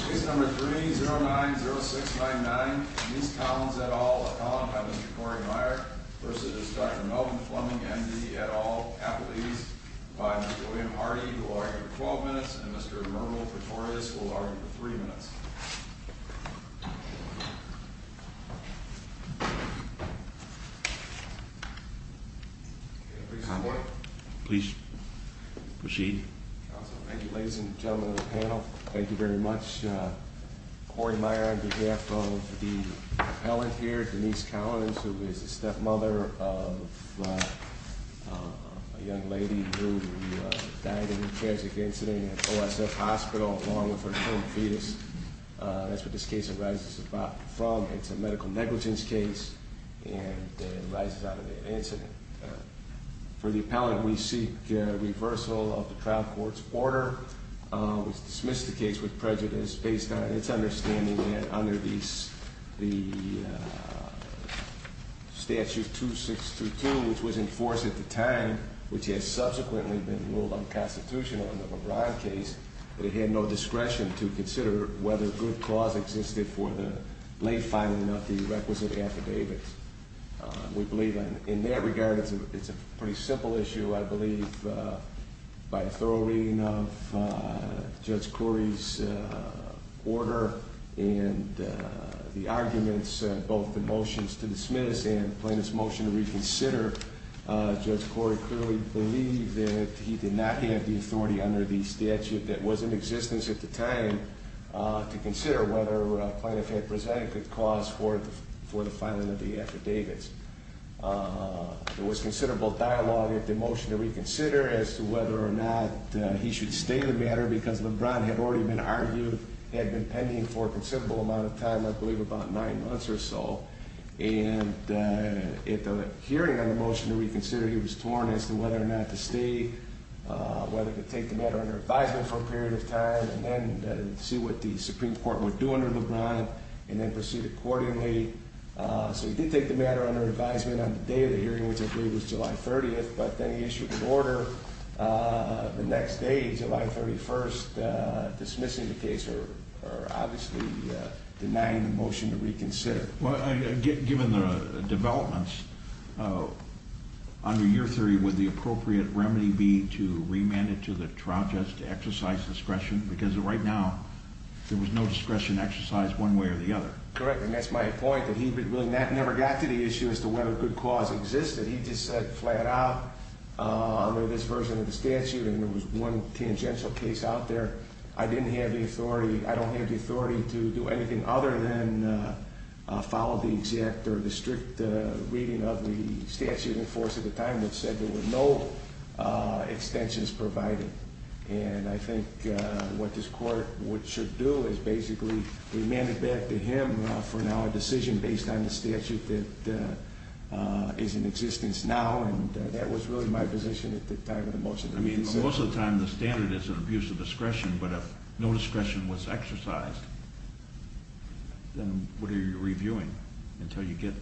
Case number 3-090699, Ms. Collins et al., a column by Mr. Cory Meyer versus Dr. Melvin Fleming and D. et al., apologies by Mr. William Hardy, who will argue for 12 minutes, and Mr. Myrvold Pretorius, who will argue for 3 minutes. Please proceed. Thank you, ladies and gentlemen of the panel. Thank you very much. Cory Meyer on behalf of the appellant here, Denise Collins, who is the stepmother of a young lady who died in a tragic incident at OSF Hospital along with her twin fetus. That's where this case arises from. It's a medical negligence case, and it arises out of that incident. For the appellant, we seek reversal of the trial court's order. We dismiss the case with prejudice based on its understanding that under the statute 2632, which was enforced at the time, which has subsequently been ruled unconstitutional in the LeBron case, that it had no discretion to consider whether good cause existed for the late filing of the requisite affidavit. We believe in that regard it's a pretty simple issue. I believe by a thorough reading of Judge Cory's order and the arguments, both the motions to dismiss and plaintiff's motion to reconsider, Judge Cory clearly believed that he did not have the authority under the statute that was in existence at the time to consider whether plaintiff had presented good cause for the filing of the affidavits. There was considerable dialogue at the motion to reconsider as to whether or not he should stay the matter because LeBron had already been argued, had been pending for a considerable amount of time, I believe about nine months or so. And at the hearing on the motion to reconsider, he was torn as to whether or not to stay, whether to take the matter under advisement for a period of time. And then see what the Supreme Court would do under LeBron and then proceed accordingly. So he did take the matter under advisement on the day of the hearing, which I believe was July 30th, but then he issued an order the next day, July 31st, dismissing the case or obviously denying the motion to reconsider. Given the developments, under your theory, would the appropriate remedy be to remand it to the trial judge to exercise discretion? Because right now there was no discretion exercised one way or the other. Correct. And that's my point, that he really never got to the issue as to whether good cause existed. He just said flat out under this version of the statute, and there was one tangential case out there, I didn't have the authority, I don't have the authority to do anything other than follow the exact or the strict reading of the statute in force at the time that said there were no extensions provided. And I think what this court should do is basically remand it back to him for now a decision based on the statute that is in existence now. And that was really my position at the time of the motion. I mean, most of the time the standard is an abuse of discretion, but if no discretion was exercised, then what are you reviewing until you get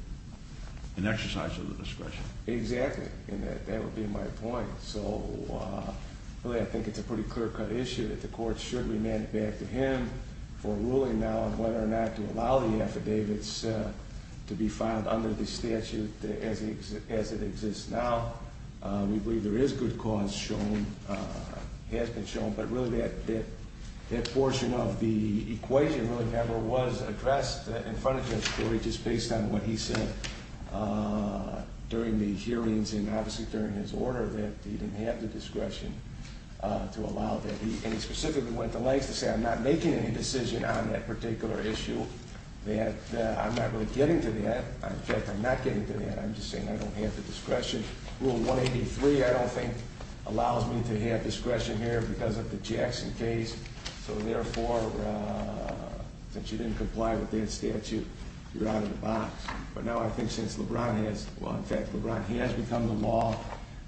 an exercise of the discretion? Exactly, and that would be my point. So really I think it's a pretty clear cut issue that the court should remand it back to him for ruling now on whether or not to allow the affidavits to be filed under the statute as it exists now. We believe there is good cause shown, has been shown, but really that portion of the equation really never was addressed in front of him. Just based on what he said during the hearings and obviously during his order that he didn't have the discretion to allow that. And he specifically went to lengths to say I'm not making any decision on that particular issue. That I'm not really getting to that. In fact, I'm not getting to that. I'm just saying I don't have the discretion. Rule 183, I don't think, allows me to have discretion here because of the Jackson case. So therefore, since you didn't comply with that statute, you're out of the box. But now I think since LeBron has, well, in fact, LeBron has become the law.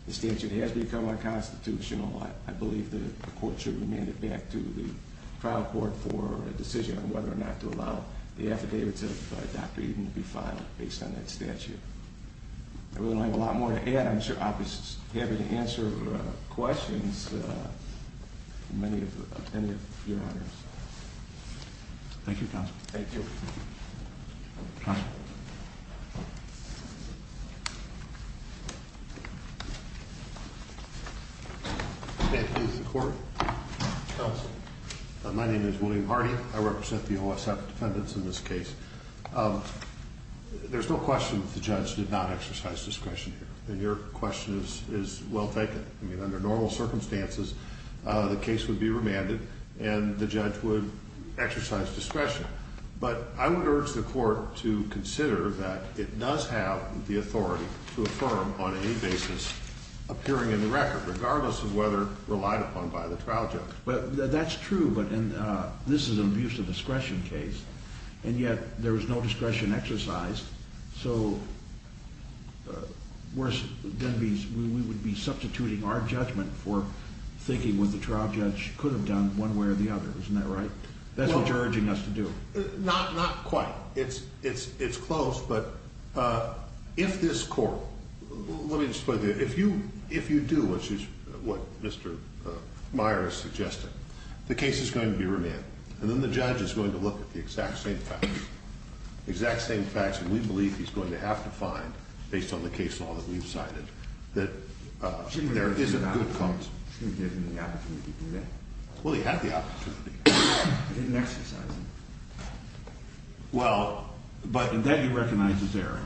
The statute has become unconstitutional. I believe the court should remand it back to the trial court for a decision on whether or not to allow the affidavits of Dr. Eden to be filed based on that statute. I really don't have a lot more to add. I'm sure I'll be happy to answer questions from any of your honors. Thank you, Counsel. Thank you. Counsel. That is the court. Counsel. My name is William Hardy. I represent the OSF defendants in this case. There's no question that the judge did not exercise discretion here. And your question is well taken. I mean, under normal circumstances, the case would be remanded and the judge would exercise discretion. But I would urge the court to consider that it does have the authority to affirm on any basis appearing in the record, regardless of whether relied upon by the trial judge. That's true, but this is an abuse of discretion case, and yet there was no discretion exercised. So we would be substituting our judgment for thinking what the trial judge could have done one way or the other. Isn't that right? That's what you're urging us to do. Not quite. It's close. But if this court ‑‑ let me just put it this way. If you do what Mr. Meyer is suggesting, the case is going to be remanded, and then the judge is going to look at the exact same facts, the exact same facts that we believe he's going to have to find, based on the case law that we've cited, that there is a good cause. He didn't have the opportunity to do that. Well, he had the opportunity. He didn't exercise it. Well, but that he recognizes error.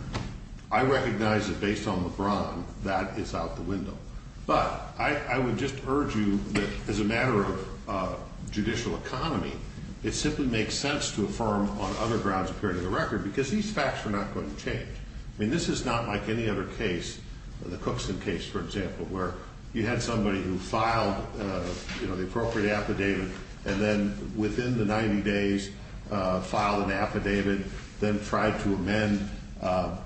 I recognize that based on LeBron, that is out the window. But I would just urge you that as a matter of judicial economy, it simply makes sense to affirm on other grounds appearing in the record because these facts are not going to change. I mean, this is not like any other case, the Cookson case, for example, where you had somebody who filed the appropriate affidavit and then within the 90 days filed an affidavit, then tried to amend,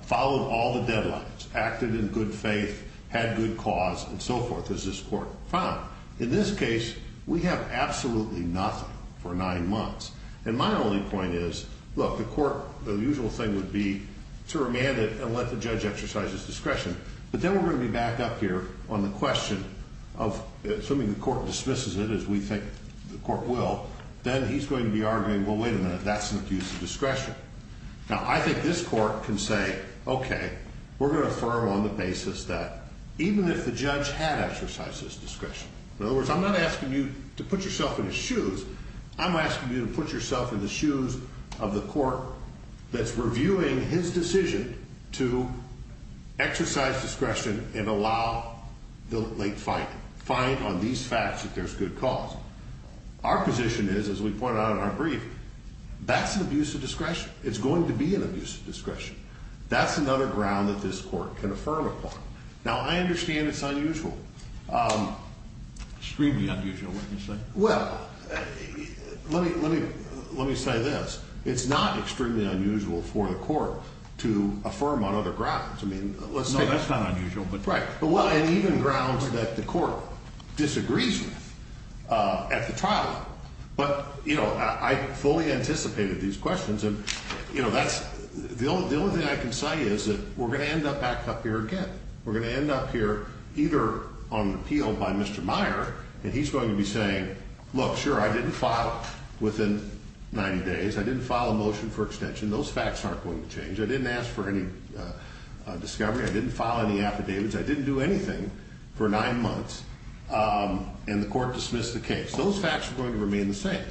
followed all the deadlines, acted in good faith, had good cause, and so forth, as this court found. In this case, we have absolutely nothing for nine months. And my only point is, look, the court, the usual thing would be to remand it and let the judge exercise his discretion. But then we're going to be back up here on the question of assuming the court dismisses it, as we think the court will, then he's going to be arguing, well, wait a minute, that's an abuse of discretion. Now, I think this court can say, okay, we're going to affirm on the basis that even if the judge had exercised his discretion, in other words, I'm not asking you to put yourself in his shoes. I'm asking you to put yourself in the shoes of the court that's reviewing his decision to exercise discretion and allow the late finding, find on these facts that there's good cause. Our position is, as we pointed out in our brief, that's an abuse of discretion. It's going to be an abuse of discretion. That's another ground that this court can affirm upon. Now, I understand it's unusual. Extremely unusual, wouldn't you say? Well, let me say this. It's not extremely unusual for the court to affirm on other grounds. No, that's not unusual. Right. And even grounds that the court disagrees with at the trial level. But, you know, I fully anticipated these questions. And, you know, the only thing I can say is that we're going to end up back up here again. We're going to end up here either on appeal by Mr. Meyer, and he's going to be saying, look, sure, I didn't file within 90 days. I didn't file a motion for extension. Those facts aren't going to change. I didn't ask for any discovery. I didn't file any affidavits. I didn't do anything for nine months. And the court dismissed the case. Those facts are going to remain the same.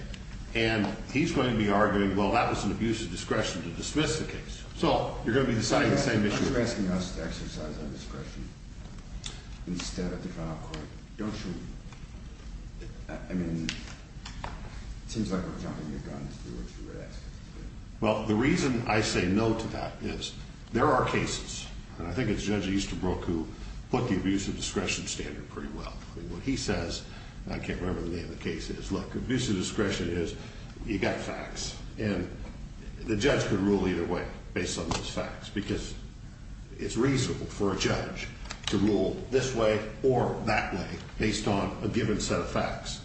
And he's going to be arguing, well, that was an abuse of discretion to dismiss the case. So you're going to be deciding the same issue. So you're asking us to exercise our discretion instead of the trial court. Don't you? I mean, it seems like we're jumping the gun as to what you're asking. Well, the reason I say no to that is there are cases, and I think it's Judge Easterbrook who put the abuse of discretion standard pretty well. What he says, and I can't remember the name of the case, is, look, abuse of discretion is you got facts. And the judge could rule either way based on those facts because it's reasonable for a judge to rule this way or that way based on a given set of facts.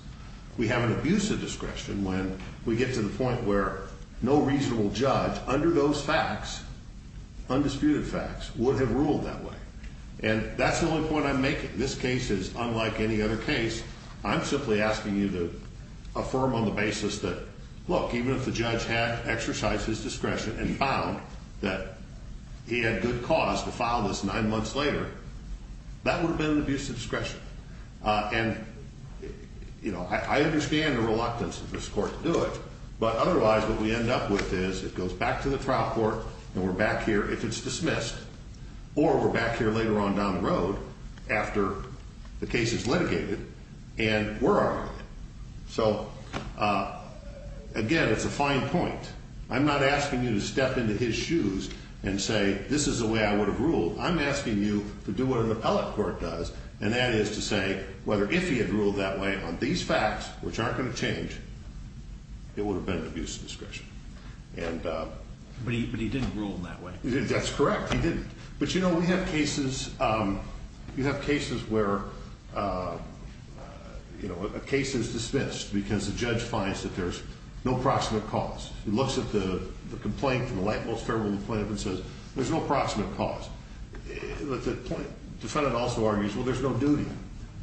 We have an abuse of discretion when we get to the point where no reasonable judge under those facts, undisputed facts, would have ruled that way. And that's the only point I'm making. This case is unlike any other case. I'm simply asking you to affirm on the basis that, look, even if the judge had exercised his discretion and found that he had good cause to file this nine months later, that would have been an abuse of discretion. And I understand the reluctance of this court to do it, but otherwise what we end up with is it goes back to the trial court and we're back here if it's dismissed. Or we're back here later on down the road after the case is litigated and we're arguing it. So, again, it's a fine point. I'm not asking you to step into his shoes and say, this is the way I would have ruled. I'm asking you to do what an appellate court does, and that is to say whether if he had ruled that way on these facts, which aren't going to change, it would have been an abuse of discretion. But he didn't rule that way. That's correct. He didn't. But, you know, we have cases where a case is dismissed because the judge finds that there's no proximate cause. He looks at the complaint from the light, most favorable plaintiff and says, there's no proximate cause. But the defendant also argues, well, there's no duty.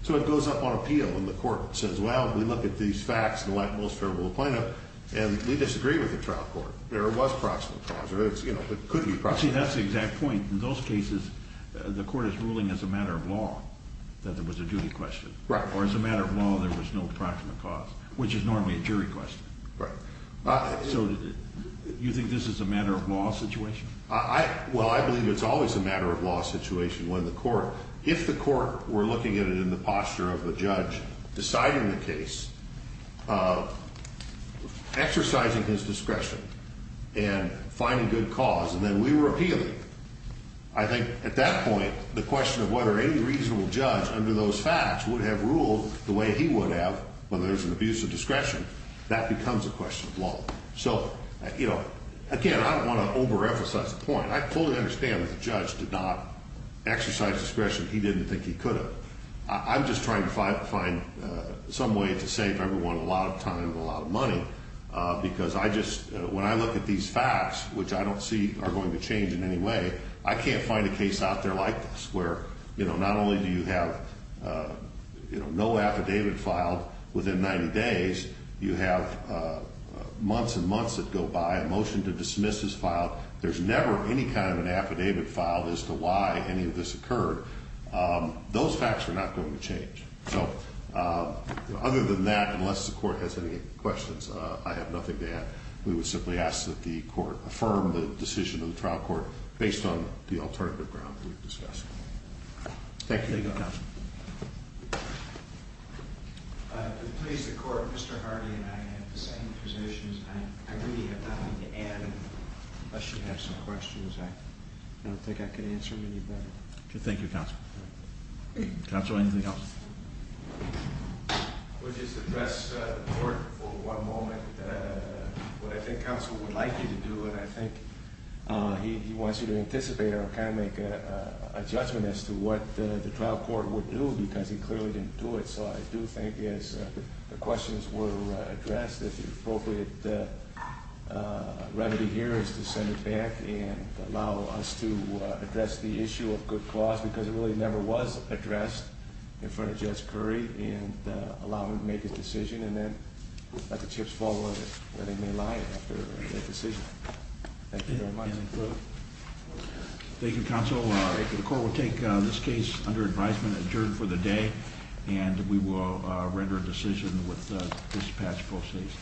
So it goes up on appeal when the court says, well, we look at these facts in the light, most favorable plaintiff, and we disagree with the trial court. There was proximate cause, or it could be proximate. See, that's the exact point. In those cases, the court is ruling as a matter of law that there was a duty question. Right. Or as a matter of law, there was no proximate cause, which is normally a jury question. Right. So you think this is a matter of law situation? Well, I believe it's always a matter of law situation when the court, if the court were looking at it in the posture of the judge deciding the case, exercising his discretion, and finding good cause, and then we were appealing, I think at that point, the question of whether any reasonable judge under those facts would have ruled the way he would have when there's an abuse of discretion, that becomes a question of law. So, you know, again, I don't want to overemphasize the point. I fully understand that the judge did not exercise discretion he didn't think he could have. I'm just trying to find some way to save everyone a lot of time and a lot of money, because I just, when I look at these facts, which I don't see are going to change in any way, I can't find a case out there like this, where, you know, not only do you have, you know, no affidavit filed within 90 days, you have months and months that go by, a motion to dismiss is filed, there's never any kind of an affidavit filed as to why any of this occurred. Those facts are not going to change. So, other than that, unless the court has any questions, I have nothing to add. We would simply ask that the court affirm the decision of the trial court based on the alternative ground we've discussed. Thank you. Thank you, counsel. To please the court, Mr. Hardy and I have the same positions. I really have nothing to add. Unless you have some questions, I don't think I can answer them any better. Thank you, counsel. Counsel, anything else? We'll just address the court for one moment. What I think counsel would like you to do, and I think he wants you to anticipate or kind of make a judgment as to what the trial court would do, because he clearly didn't do it. So I do think as the questions were addressed, if the appropriate remedy here is to send it back and allow us to address the issue of good cause, because it really never was addressed in front of Judge Curry. And allow him to make a decision and then let the chips fall where they may lie after that decision. Thank you very much. Thank you, counsel. The court will take this case under advisement adjourned for the day. And we will render a decision with the dispatch proceeds.